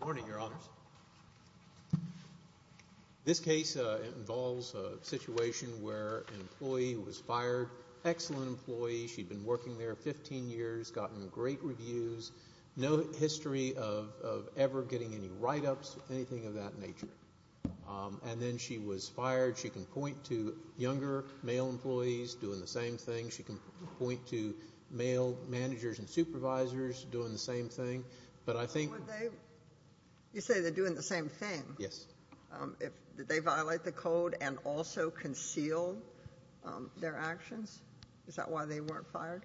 Morning, Your Honors. This case involves a situation where an employee was fired, excellent employee, she'd been working there 15 years, gotten great reviews, no history of ever getting any write-ups, anything of that nature. And then she was fired. She can point to younger managers and supervisors doing the same thing. But I think... You say they're doing the same thing. Yes. Did they violate the code and also conceal their actions? Is that why they weren't fired?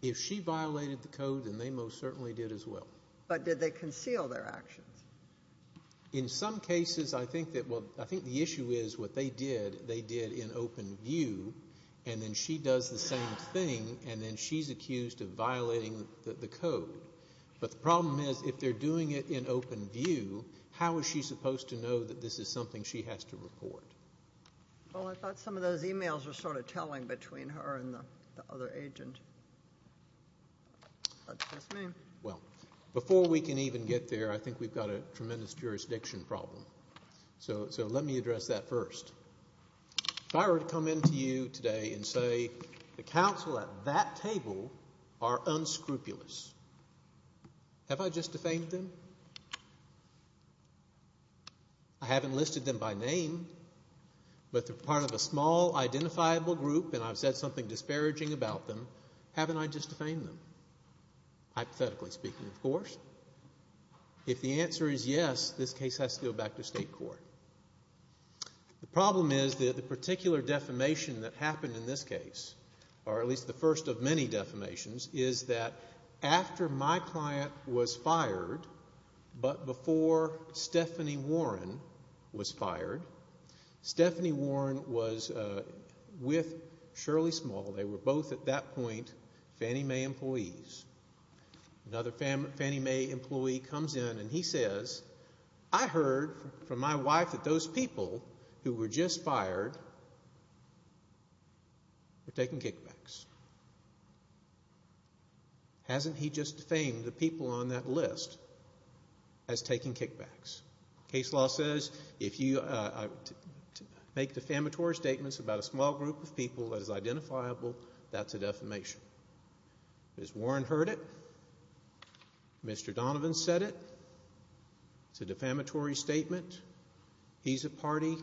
If she violated the code, then they most certainly did as well. But did they conceal their actions? In some cases, I think the issue is what they did, they did in open view, and then she does the same thing, and then she's accused of violating the code. But the problem is, if they're doing it in open view, how is she supposed to know that this is something she has to report? Well, I thought some of those e-mails were sort of telling between her and the other agent. That's just me. Well, before we can even get there, I think we've got a tremendous jurisdiction problem. So let me address that first. If I were to come in to you today and say, the counsel at that table are unscrupulous, have I just defamed them? I haven't listed them by name, but they're part of a small, identifiable group, and I've said something disparaging about them. Haven't I just defamed them? Hypothetically speaking, of course. If the answer is yes, this case has to go back to state court. The problem is that the particular defamation that happened in this case, or at least the first of many defamations, is that after my client was fired, but before Stephanie Warren was fired, Stephanie Warren was with Shirley Small. They were both, at that point, Fannie I heard from my wife that those people who were just fired were taking kickbacks. Hasn't he just defamed the people on that list as taking kickbacks? Case law says if you make defamatory statements about a small group of people that is identifiable, that's a defamation. Ms. Warren heard it, Mr. Donovan said it, it's a defamatory statement, he's a party,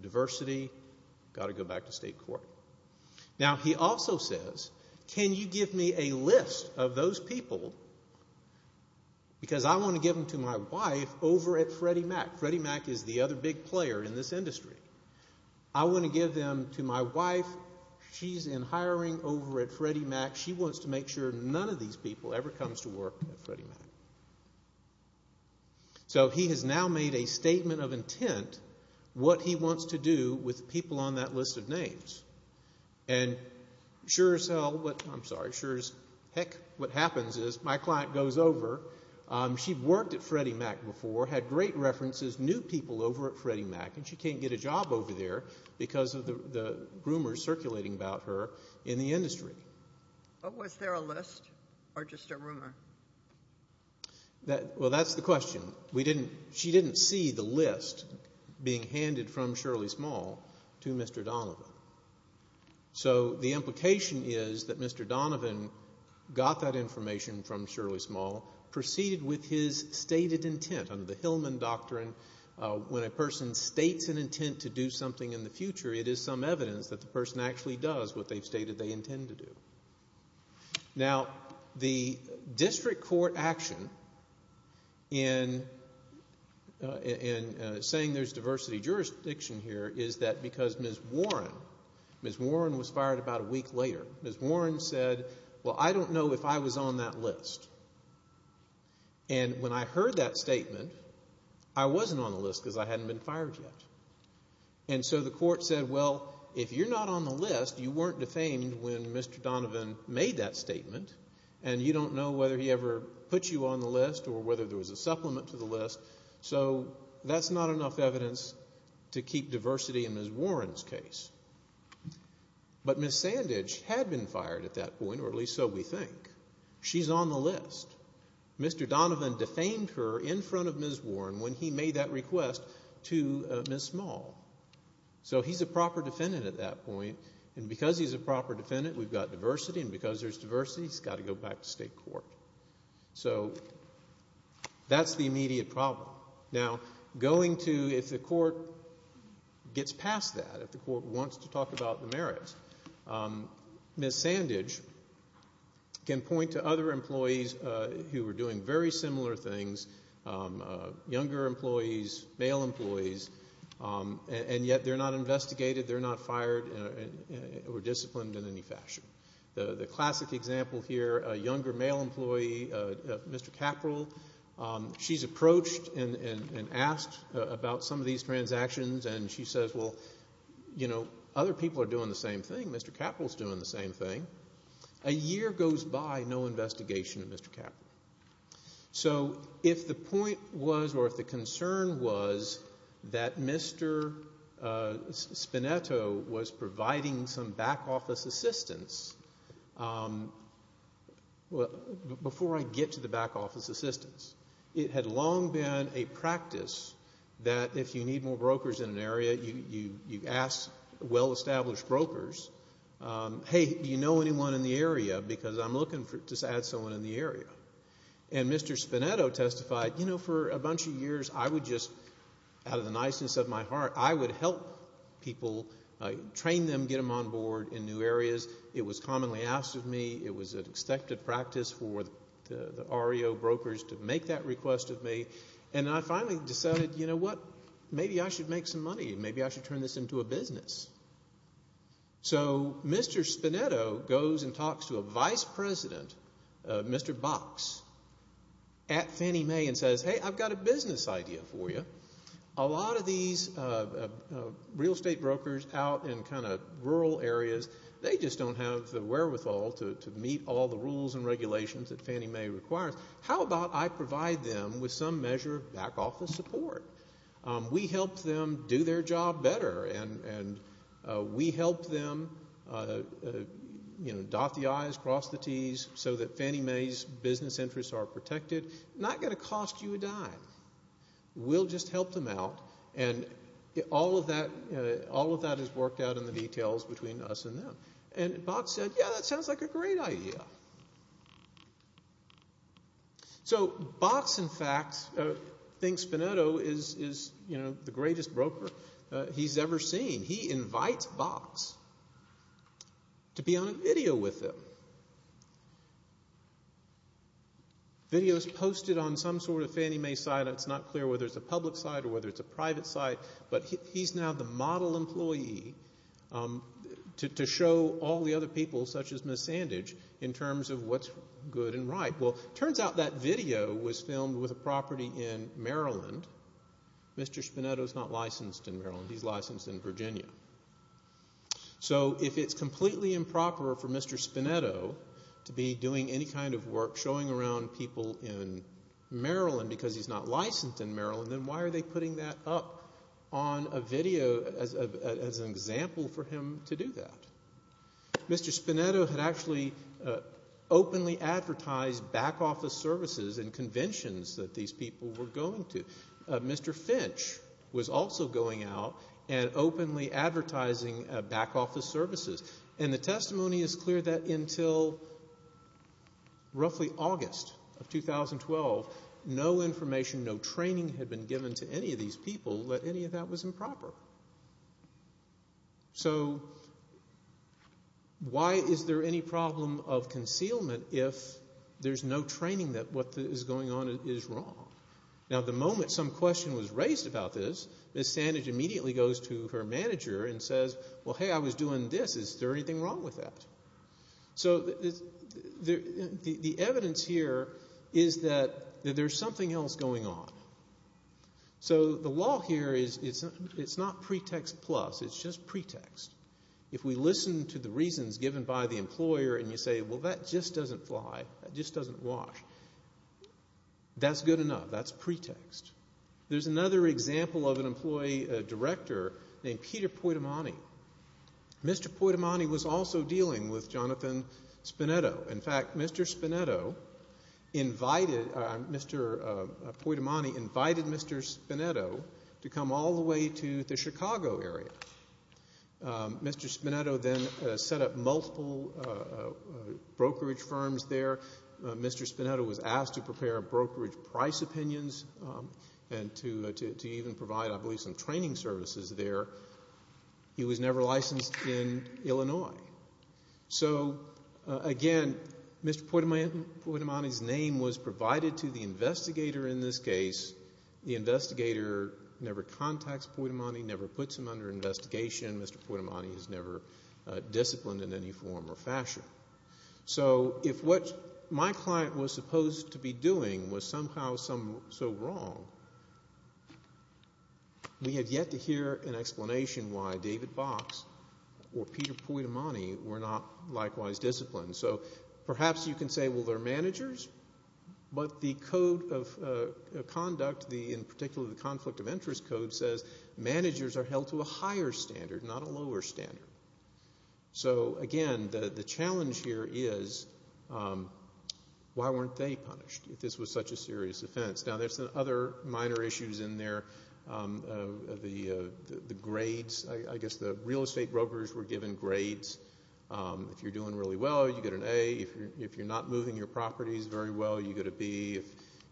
diversity, got to go back to state court. Now, he also says, can you give me a list of those people, because I want to give them to my wife over at Freddie Mac. Freddie Mac is the other big player in this industry. I want to give them to my wife, she's in hiring over at Freddie Mac, she wants to make sure none of these people ever comes to work at Freddie Mac. So he has now made a statement of intent, what he wants to do with people on that list of names. And sure as hell, I'm sorry, heck, what happens is my client goes over, she worked at Freddie Mac before, had great references, new people over at Freddie Mac, and she can't get a job over there because of the rumors circulating about her. In the industry. But was there a list, or just a rumor? Well that's the question. She didn't see the list being handed from Shirley Small to Mr. Donovan. So the implication is that Mr. Donovan got that information from Shirley Small, proceeded with his stated intent, under the Hillman Doctrine, when a person states an intent to do something in the future, it is some evidence that the person actually does what they stated they intend to do. Now, the district court action in saying there's diversity jurisdiction here is that because Ms. Warren, Ms. Warren was fired about a week later, Ms. Warren said, well I don't know if I was on that list. And when I heard that statement, I wasn't on the list because I hadn't been fired yet. And so the court said, well, if you're not on the list, you weren't defamed when Mr. Donovan made that statement, and you don't know whether he ever put you on the list or whether there was a supplement to the list. So that's not enough evidence to keep diversity in Ms. Warren's case. But Ms. Sandage had been fired at that point, or at least so we think. She's on the list. Mr. Donovan defamed her in front of And because he's a proper defendant, we've got diversity, and because there's diversity, he's got to go back to state court. So that's the immediate problem. Now, going to, if the court gets past that, if the court wants to talk about the merits, Ms. Sandage can point to other employees who were doing very similar things, younger employees, male employees, and yet they're not investigated, they're not fired or disciplined in any fashion. The classic example here, a younger male employee, Mr. Caperell, she's approached and asked about some of these transactions, and she says, well, you know, other people are doing the same thing. Mr. Caperell's doing the same thing. A year goes by, no investigation of Mr. Spinetto was providing some back office assistance. Before I get to the back office assistance, it had long been a practice that if you need more brokers in an area, you ask well-established brokers, hey, do you know anyone in the area, because I'm looking to add someone in the area. And Mr. Spinetto testified, you know, for a bunch of years, I would just, out of the niceness of my heart, I would help people, train them, get them on board in new areas. It was commonly asked of me. It was an expected practice for the REO brokers to make that request of me. And I finally decided, you know what, maybe I should make some money. Maybe I should turn this into a business. So Mr. Spinetto goes and talks to a vice president, Mr. Box, at Fannie Mae and says, hey, I've got a business idea for you. A lot of these real estate brokers out in kind of rural areas, they just don't have the wherewithal to meet all the rules and regulations that Fannie Mae requires. How about I provide them with some measure of back office support? We help them do their job better. And we help them, you know, dot the I's, cross the T's, so that Fannie Mae's business interests are protected. Not going to cost you a dime. We'll just help them out. And all of that, you know, all of that is worked out in the details between us and them. And Box said, yeah, that sounds like a great idea. So Box, in fact, thinks Spinetto is, you know, the greatest broker he's ever seen. He invites Box to be on a video with him. Video's posted on some sort of Fannie Mae site. It's not clear whether it's a public site or whether it's a private site. But he's now the model employee to show all the other people, such as Ms. Sandage, in terms of what's good and right. Well, it turns out that video was in Maryland. Mr. Spinetto's not licensed in Maryland. He's licensed in Virginia. So if it's completely improper for Mr. Spinetto to be doing any kind of work showing around people in Maryland because he's not licensed in Maryland, then why are they putting that up on a video as an example for him to do that? Mr. Spinetto had actually openly advertised back office services and these people were going to. Mr. Finch was also going out and openly advertising back office services. And the testimony is clear that until roughly August of 2012, no information, no training had been given to any of these people that any of that was improper. So why is there any problem of concealment if there's no training that what is going on is wrong? Now, the moment some question was raised about this, Ms. Sandage immediately goes to her manager and says, well, hey, I was doing this. Is there anything wrong with that? So the evidence here is that there's something else going on. So the law here is it's not pretext plus. It's just pretext. If we listen to the reasons given by the employer and you say, well, that just doesn't fly, that just doesn't wash, that's good enough. That's pretext. There's another example of an employee director named Peter Poitomani. Mr. Poitomani was also dealing with Jonathan Spinetto. In fact, Mr. Spinetto invited, Mr. Poitomani invited Mr. Spinetto to come all the way to the Chicago area. Mr. Spinetto then set up multiple brokerage firms there. Mr. Spinetto was asked to prepare brokerage price opinions and to even provide, I believe, some training services there. He was never licensed in Illinois. So again, Mr. Poitomani's name was provided to the investigator in this case. The investigator never contacts Poitomani, never puts him under investigation. Mr. Poitomani is never disciplined in any form or fashion. So if what my client was supposed to be doing was somehow so wrong, we have yet to hear an explanation why David Box or Peter Poitomani were not likewise disciplined. So perhaps you can say, well, they're managers, but the Code of Conduct, in particular the Conflict of Interest Code, says managers are held to a higher standard, not a lower standard. So again, the challenge here is, why weren't they punished if this was such a serious offense? Now, there's other minor issues in there. The grades, I guess the real estate brokers were given grades. If you're doing really well, you get an A. If you're not moving your properties very well, you get a B.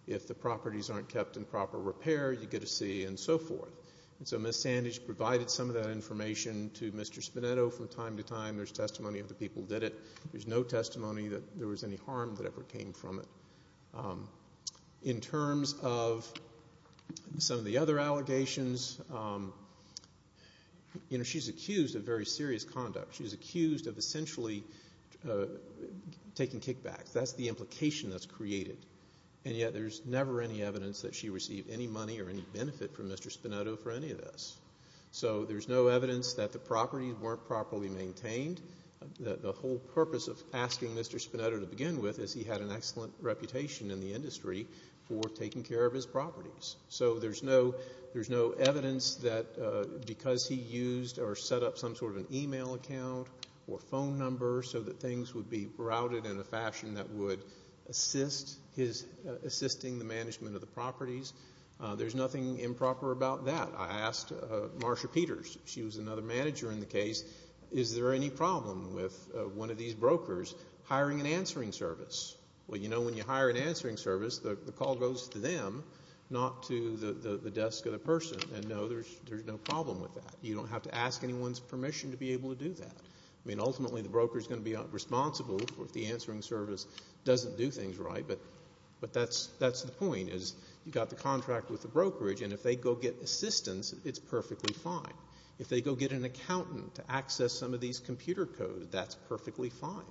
If the properties aren't kept in proper repair, you get a C, and so forth. And so Ms. Sandage provided some of that information to Mr. Spinetto from time to time. There's testimony of the people who did it. There's no testimony that there was any harm that ever came from it. In terms of some of the people taking kickbacks, that's the implication that's created. And yet, there's never any evidence that she received any money or any benefit from Mr. Spinetto for any of this. So there's no evidence that the properties weren't properly maintained. The whole purpose of asking Mr. Spinetto to begin with is he had an excellent reputation in the industry for taking care of his properties. So there's no evidence that because he used or set up some email account or phone number so that things would be routed in a fashion that would assist the management of the properties. There's nothing improper about that. I asked Marsha Peters. She was another manager in the case. Is there any problem with one of these brokers hiring an answering service? Well, you know when you hire an answering service, the call goes to them, not to the desk of the person. And no, there's no problem with that. You don't have to ask anyone's permission to be able to do that. I mean, ultimately, the broker's going to be responsible if the answering service doesn't do things right. But that's the point is you got the contract with the brokerage, and if they go get assistance, it's perfectly fine. If they go get an accountant to access some of these computer codes, that's perfectly fine.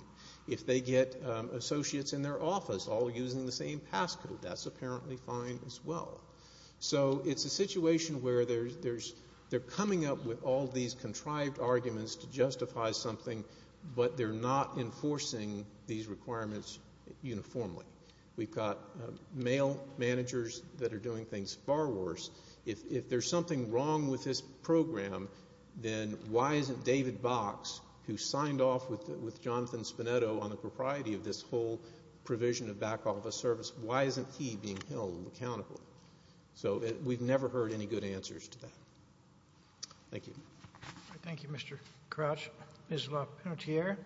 If they get associates in their office all using the same passcode, that's apparently fine as well. So it's a situation where they're coming up with all these contrived arguments to justify something, but they're not enforcing these requirements uniformly. We've got mail managers that are doing things far worse. If there's something wrong with this program, then why isn't David Box, who signed off with Jonathan Spinetto on the propriety of this whole provision of backhaul of the service, why isn't he being held accountable? So we've never heard any good answers to that. Thank you. Thank you, Mr. Crouch. Ms. Lapinotier.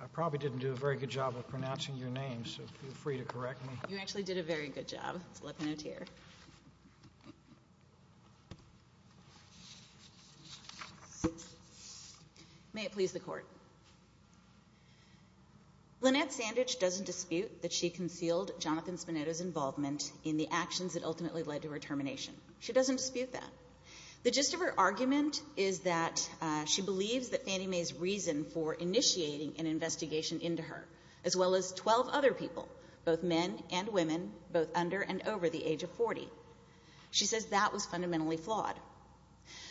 I probably didn't do a very good job of pronouncing your name, so feel free to correct me. You actually did a very good job, Ms. Lapinotier. May it please the Court. Lynette Sandidge doesn't dispute that she concealed Jonathan Spinetto's involvement in the actions that ultimately led to her termination. She doesn't dispute that. The gist of her argument is that she believes that Fannie Mae's reason for initiating an both under and over the age of 40. She says that was fundamentally flawed.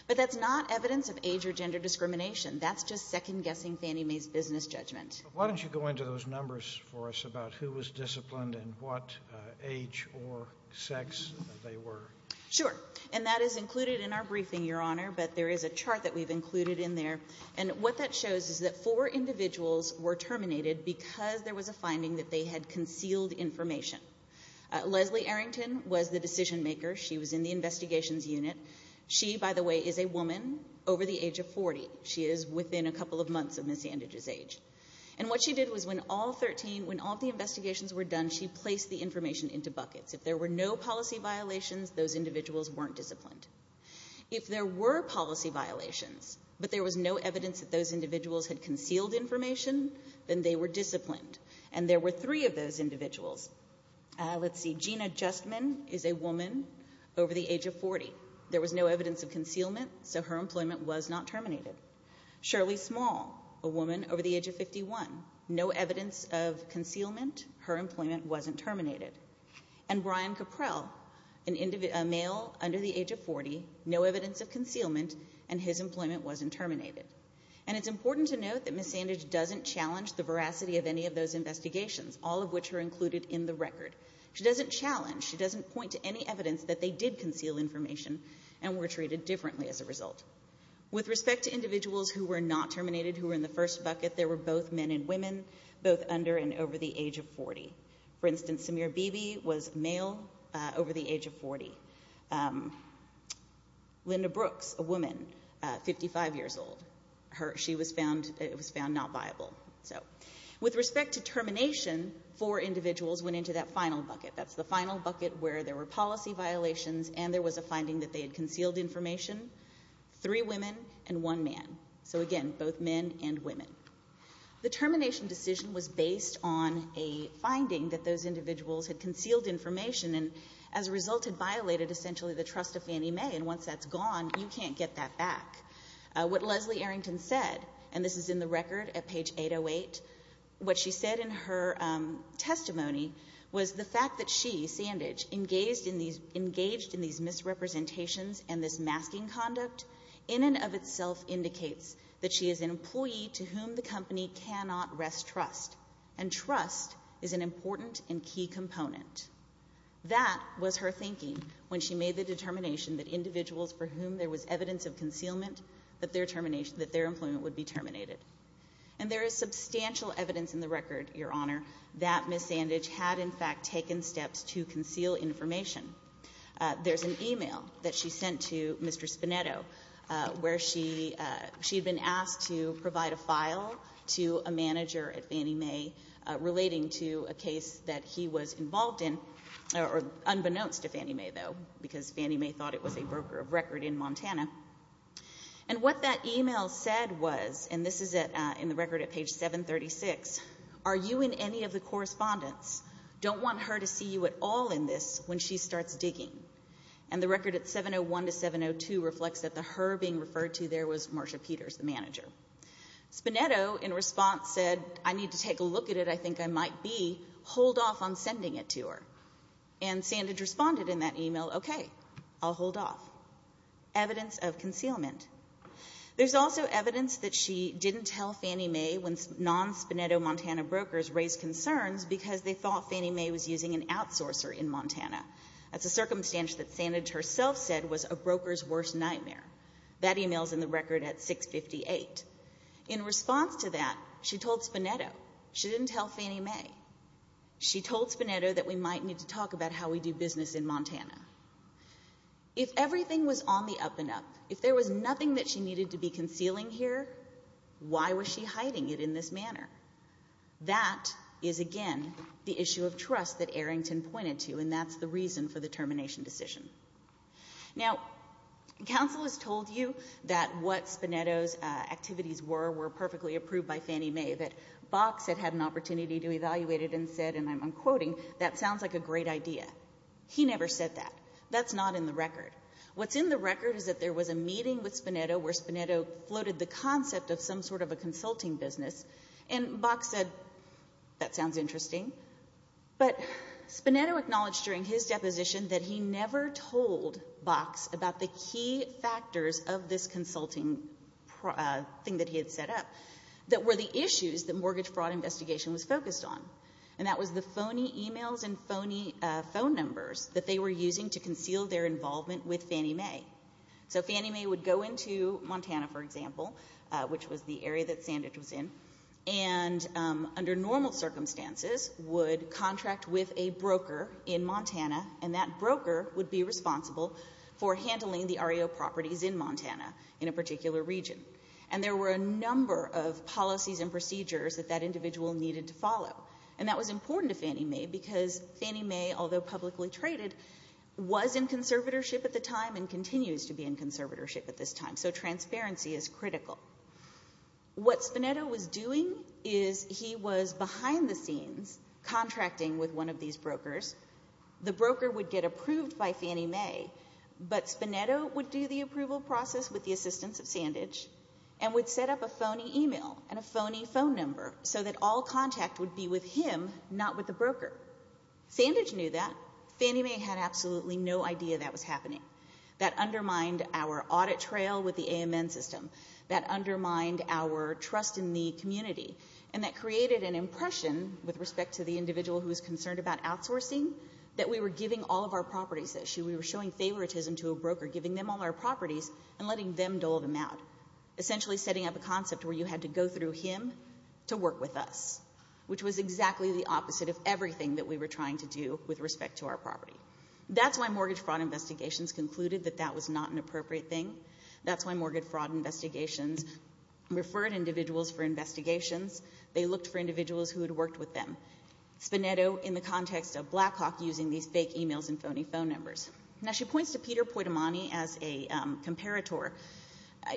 But that's not evidence of age or gender discrimination. That's just second-guessing Fannie Mae's business judgment. Why don't you go into those numbers for us about who was disciplined and what age or sex they were? Sure. And that is included in our briefing, Your Honor, but there is a chart that we've included in there, and what that shows is that four individuals were terminated because there was a finding that they had concealed information. Leslie Arrington was the decision maker. She was in the investigations unit. She, by the way, is a woman over the age of 40. She is within a couple of months of Ms. Sandidge's age. And what she did was when all 13, when all the investigations were done, she placed the information into buckets. If there were no policy violations, those individuals weren't disciplined. If there were policy violations, but there was no evidence that those individuals had concealed information, then they were disciplined. And there were three of those individuals. Let's see. Gina Justman is a woman over the age of 40. There was no evidence of concealment, so her employment was not terminated. Shirley Small, a woman over the age of 51. No evidence of concealment. Her employment wasn't terminated. And Brian Caprell, a male under the age of 40. No evidence of concealment, and his employment wasn't terminated. And it's important to note that Ms. Sandidge doesn't challenge the veracity of any of those investigations, all of which are included in the record. She doesn't challenge, she doesn't point to any evidence that they did conceal information and were treated differently as a result. With respect to individuals who were not terminated, who were in the first bucket, there were both men and women, both under and over the age of 40. For instance, Samir Bibi was male over the age of 40. Linda Brooks, a woman, 55 years old. She was found not viable. So with respect to termination, four individuals went into that final bucket. That's the final bucket where there were policy violations and there was a finding that they had concealed information. Three women and one man. So again, both men and women. The termination decision was based on a finding that those individuals had concealed information and as a result had violated essentially the trust of Fannie Mae. And once that's gone, you can't get that back. What Leslie Arrington said, and this is in the record at page 808, what she said in her testimony was the fact that she, Sandidge, engaged in these misrepresentations and this masking conduct in and of itself indicates that she is an employee to whom the company cannot wrest trust. And trust is an important and key component. That was her thinking when she made the determination that individuals for whom there was evidence of concealment, that their employment would be terminated. And there is substantial evidence in the record, Your Honor, that Ms. Sandidge had in fact taken steps to conceal information. There's an email that she sent to Mr. Spinetto where she had been asked to provide a file to a manager at Fannie Mae relating to a case that he was involved in, unbeknownst to Fannie Mae though, because Fannie Mae thought it was a broker of record in Montana. And what that email said was, and this is in the record at page 736, are you in any of the correspondence? Don't want her to see you at all in this when she starts digging. And the record at 701 to 702 reflects that the her being referred to there was Marsha Peters, the manager. Spinetto in response said, I need to take a look at it, I think I might be, hold off on sending it to her. And Sandidge responded in that email, okay, I'll hold off. Evidence of concealment. There's also evidence that she didn't tell Fannie Mae when non-Spinetto Montana brokers raised concerns because they thought Fannie Mae was using an outsourcer in a circumstance that Sandidge herself said was a broker's worst nightmare. That email's in the record at 658. In response to that, she told Spinetto, she didn't tell Fannie Mae. She told Spinetto that we might need to talk about how we do business in Montana. If everything was on the up and up, if there was nothing that she needed to be concealing here, why was she hiding it in this manner? That is again the issue of trust that Arrington pointed to, and that's the reason for the termination decision. Now, counsel has told you that what Spinetto's activities were, were perfectly approved by Fannie Mae, that Bach said had an opportunity to evaluate it and said, and I'm unquoting, that sounds like a great idea. He never said that. That's not in the record. What's in the record is that there was a meeting with Spinetto where Spinetto floated the concept of some sort of a consulting business, and Bach said, that sounds interesting. But Spinetto acknowledged during his deposition that he never told Bach about the key factors of this consulting thing that he had set up that were the issues that mortgage fraud investigation was focused on, and that was the phony emails and phony phone numbers that they were using to conceal their involvement with Fannie Mae. So Fannie Mae would go into Montana, for example, which was the area that Sandage was in, and under normal circumstances would contract with a broker in Montana, and that broker would be responsible for handling the REO properties in Montana in a particular region. And there were a number of policies and procedures that that individual needed to follow, and that was important to Fannie Mae because Fannie Mae, although publicly traded, was in conservatorship at the time and continues to be in conservatorship at this time, so transparency is critical. What Spinetto was doing is he was behind the scenes contracting with one of these brokers. The broker would get approved by Fannie Mae, but Spinetto would do the approval process with the assistance of Sandage and would set up a phony email and a phony phone number so that all contact would be with him, not with the broker. Sandage knew that. Fannie Mae had absolutely no idea that was happening. That undermined our audit trail with the AMN system. That undermined our trust in the community, and that created an impression with respect to the individual who was concerned about outsourcing that we were giving all of our properties. We were showing favoritism to a broker, giving them all our properties and letting them dole them out, essentially setting up a concept where you had to go through him to work with us, which was exactly the opposite of everything that we were trying to do with respect to our property. That's why mortgage fraud investigations concluded that that was not an appropriate thing. That's why mortgage fraud investigations referred individuals for investigations. They looked for individuals who had worked with them. Spinetto, in the context of Blackhawk, using these fake emails and phony phone numbers. Now, she points to Peter Poitomani as a comparator.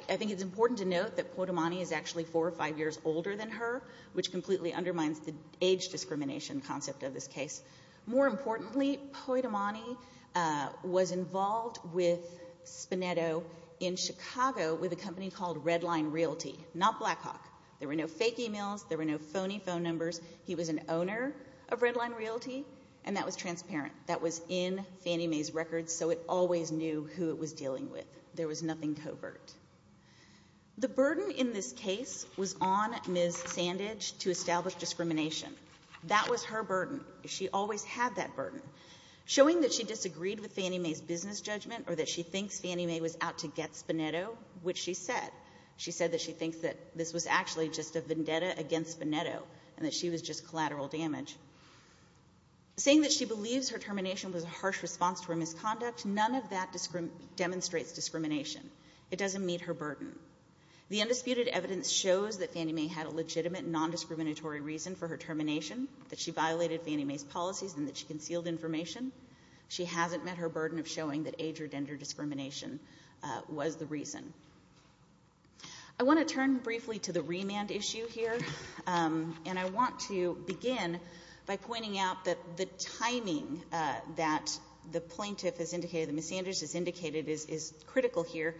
I think it's important to note that Poitomani is actually four or five years older than her, which completely undermines the age discrimination concept of this case. More importantly, Poitomani was involved with Spinetto in Chicago with a company called Redline Realty, not Blackhawk. There were no fake emails. There were no phony phone numbers. He was an owner of Redline Realty, and that was transparent. That was in Fannie Mae's records, so it always knew who it was dealing with. There was nothing covert. The burden in this case was on Ms. Sandage to establish discrimination. That was her burden. She always had that burden. Showing that she disagreed with Fannie Mae's business judgment, or that she thinks Fannie Mae was out to get Spinetto, which she said. She said that she thinks that this was actually just a vendetta against Spinetto, and that she was just collateral damage. Saying that she believes her termination was a harsh response to her misconduct, none of that demonstrates discrimination. It doesn't meet her burden. The undisputed evidence shows that Fannie Mae had a legitimate, non-discriminatory reason for her termination, that she violated Fannie Mae's policies, and that she concealed information. She hasn't met her burden of showing that age or gender discrimination was the reason. I want to turn briefly to the remand issue here, and I want to begin by pointing out that the timing that the plaintiff has indicated, that Ms. Sandage has indicated, is critical here.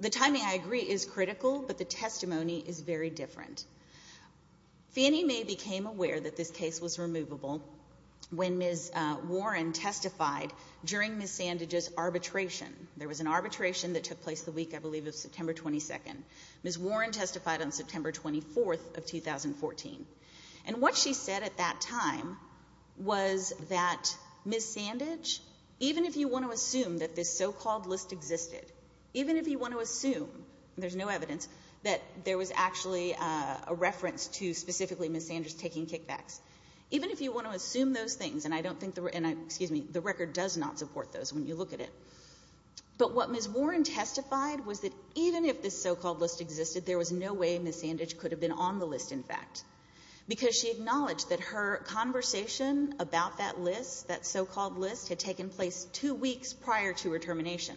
The timing, I agree, is critical, but the testimony is very different. Fannie Mae became aware that this case was removable when Ms. Warren testified during Ms. Sandage's arbitration. There was an arbitration that took place the week, I believe, of September 22nd. Ms. Warren testified on September 24th of 2014. And what she said at that time was that Ms. Sandage, even if you want to assume that this so-called list existed, even if you want to assume, and there's no evidence, that there was actually a reference to specifically Ms. Sandage taking kickbacks, even if you want to assume those things, and I don't think the record does not support those when you look at it, but what Ms. Warren testified was that even if this so-called list existed, there was no way Ms. Sandage could have been on the list, in fact, because she acknowledged that her conversation about that list, that so-called list, had taken place two weeks prior to her termination.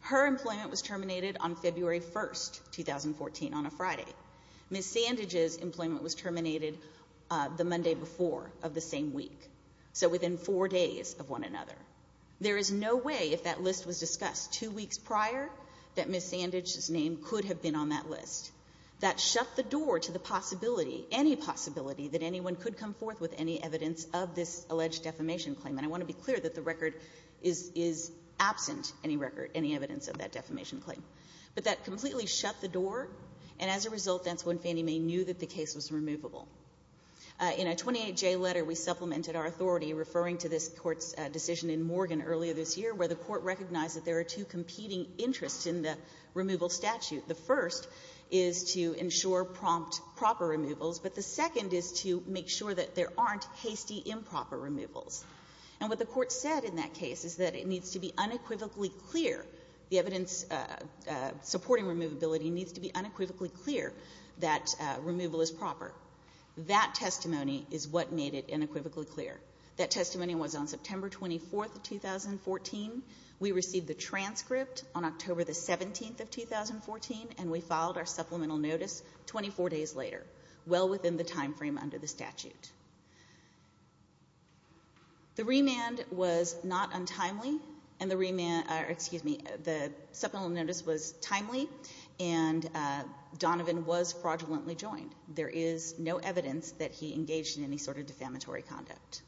Her employment was terminated on February 1st, 2014, on a Friday. Ms. Sandage's employment was terminated the Monday before of the same week, so within four days of one another. There is no way, if that list was discussed two weeks prior, that Ms. Sandage's name could have been on that list. That shut the door to the possibility, any possibility, that anyone could come forth with any evidence of this alleged defamation claim. And I want to be clear that the record is absent, any record, any evidence of that defamation claim. But that completely shut the door, and as a result, that's when Fannie Mae knew that the case was removable. In a 28-J letter, we supplemented our authority, referring to this Court's decision in Morgan earlier this year, where the Court recognized that there are two competing interests in the removal statute. The first is to ensure prompt, proper removals, but the second is to make sure that there aren't hasty, improper removals. And what the Court said in that case is that it needs to be unequivocally clear, the evidence supporting removability needs to be unequivocally clear that removal is proper. That testimony is what made it unequivocally clear. That testimony was on September 24, 2014. We received the transcript on October 17, 2014, and we filed our supplemental notice 24 days later, well within the time frame under the statute. The remand was not untimely, and the remand or excuse me, the supplemental notice was timely, and Donovan was fraudulently joined. There is no evidence that he engaged in any sort of defamatory conduct.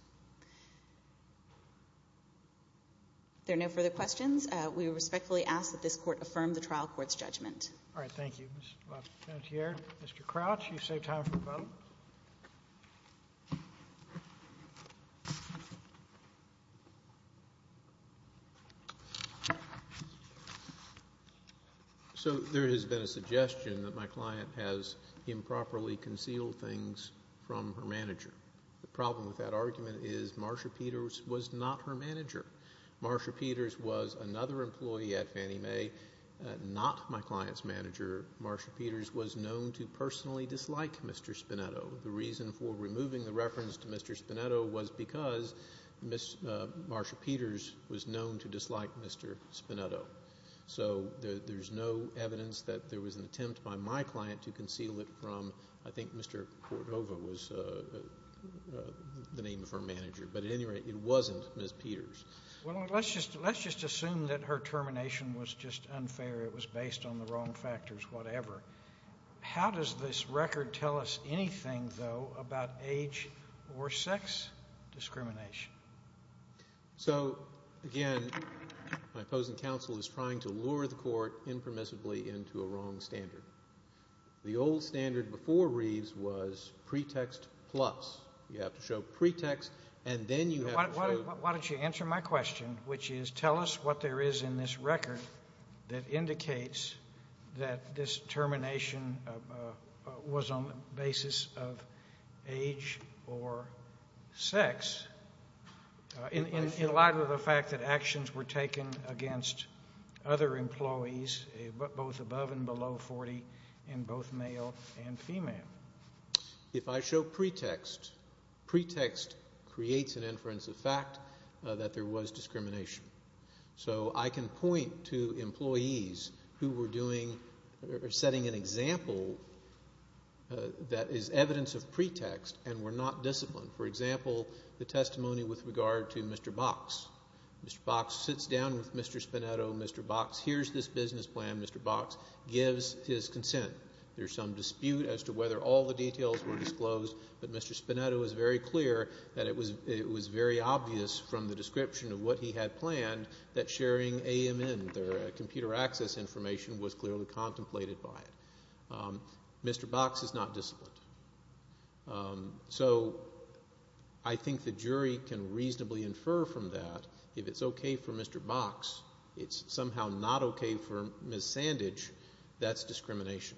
There are no further questions. We respectfully ask that this Court affirm the trial court's judgment. All right. Thank you, Ms. LaFontiere. Mr. Crouch, you've saved time for the vote. So there has been a suggestion that my client has improperly concealed things from her manager. The problem with that argument is Marsha Peters was not her manager. Marsha Peters was another employee at Fannie Mae, not my client's manager. Marsha Peters was known to personally dislike Mr. Spinetto. The reason for removing the reference to Mr. Spinetto was because Marsha Peters was known to dislike Mr. Spinetto. So there's no evidence that there was an attempt by my client to conceal it from, I think Mr. Cordova was the name of her manager. But at any rate, it wasn't Ms. Peters. Well, let's just assume that her termination was just unfair, it was based on the wrong factors, whatever. How does this record tell us anything, though, about age or sex discrimination? So, again, my opposing counsel is trying to lure the Court impermissibly into a wrong standard. The old standard before Reeves was pretext plus. You have to show pretext, and then you have to show... Why don't you answer my question, which is, tell us what there is in this record that indicates that this termination was on the basis of age or sex, in light of the fact that actions were taken against other employees, both above and below 40, and both male and female. If I show pretext, pretext creates an inference of fact that there was discrimination. So I can point to employees who were doing or setting an example that is evidence of pretext and were not disciplined. For example, the testimony with regard to Mr. Box. Mr. Box sits down with Mr. Spinetto. Mr. Box hears this business plan. Mr. Box gives his consent. There's some dispute as to whether all the details were disclosed, but Mr. Spinetto was very clear that it was very obvious from the description of what he had planned that sharing AMN, their computer access information, was clearly contemplated by it. Mr. Box is not disciplined. So I think the jury can reasonably infer from that, if it's okay for Mr. Box, it's somehow not okay for Ms. Sandage, that's discrimination.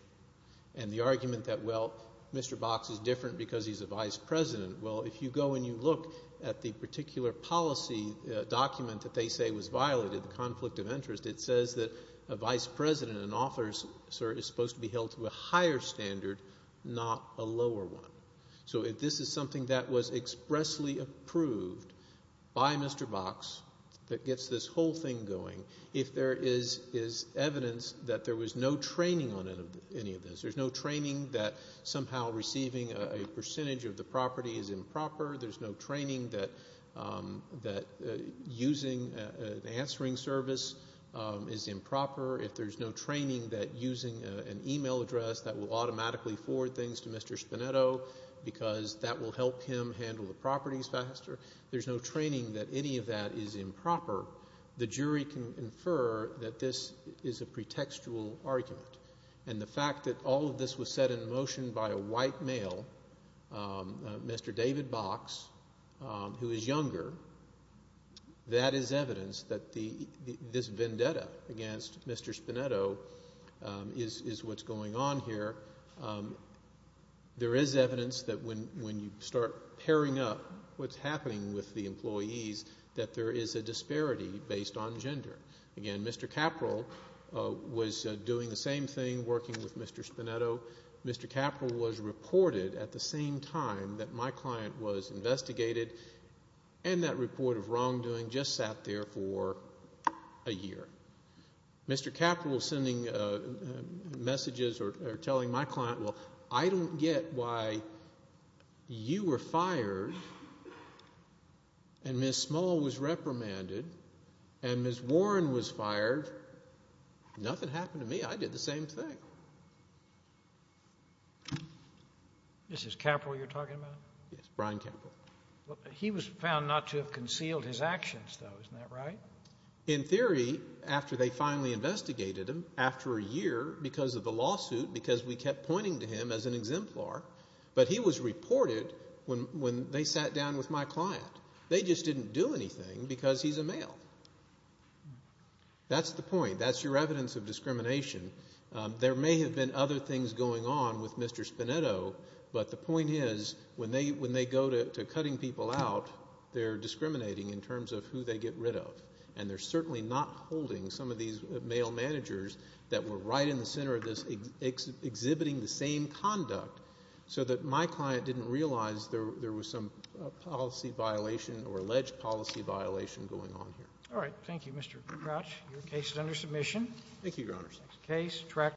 And the argument that, well, Mr. Box is different because he's a vice president, well, if you go and you look at the particular policy document that they say was violated, the conflict of interest, it says that a vice president, an officer, is supposed to be held to a higher standard, not a lower one. So if this is something that was expressly approved by Mr. Box that gets this whole thing going, if there is evidence that there was no training on improper, there's no training that using an answering service is improper, if there's no training that using an email address that will automatically forward things to Mr. Spinetto because that will help him handle the properties faster, there's no training that any of that is improper, the jury can infer that this is a pretextual argument. And the fact that all of this was set in motion by a white male, Mr. David Box, who is younger, that is evidence that this vendetta against Mr. Spinetto is what's going on here. There is evidence that when you start pairing up what's happening with the employees, that there is a disparity based on gender. Again, Mr. Caperell was doing the same thing, working with Mr. Spinetto. Mr. Caperell was reported at the same time that my client was investigated, and that report of wrongdoing just sat there for a year. Mr. Caperell was sending messages or telling my client, well, I don't get why you were fired, and Ms. Small was reprimanded, and Ms. Warren was fired. Nothing happened to me, I did the same thing. This is Caperell you're talking about? Yes, Brian Caperell. He was found not to have concealed his actions though, isn't that right? In theory, after they finally investigated him, after a year, because of the lawsuit, because we kept pointing to him as an exemplar, but he was reported when they sat down with my client. They just didn't do anything because he's a male. That's the point. That's your evidence of discrimination. There may have been other things going on with Mr. Spinetto, but the point is, when they go to cutting people out, they're discriminating in terms of who they get rid of, and they're certainly not holding some of these male managers that were right in the center of this exhibiting the same conduct, so that my client didn't realize there was some policy violation or alleged policy violation going on here. All right. Thank you, Mr. Crouch. Your case is under submission. Thank you, Your Honors.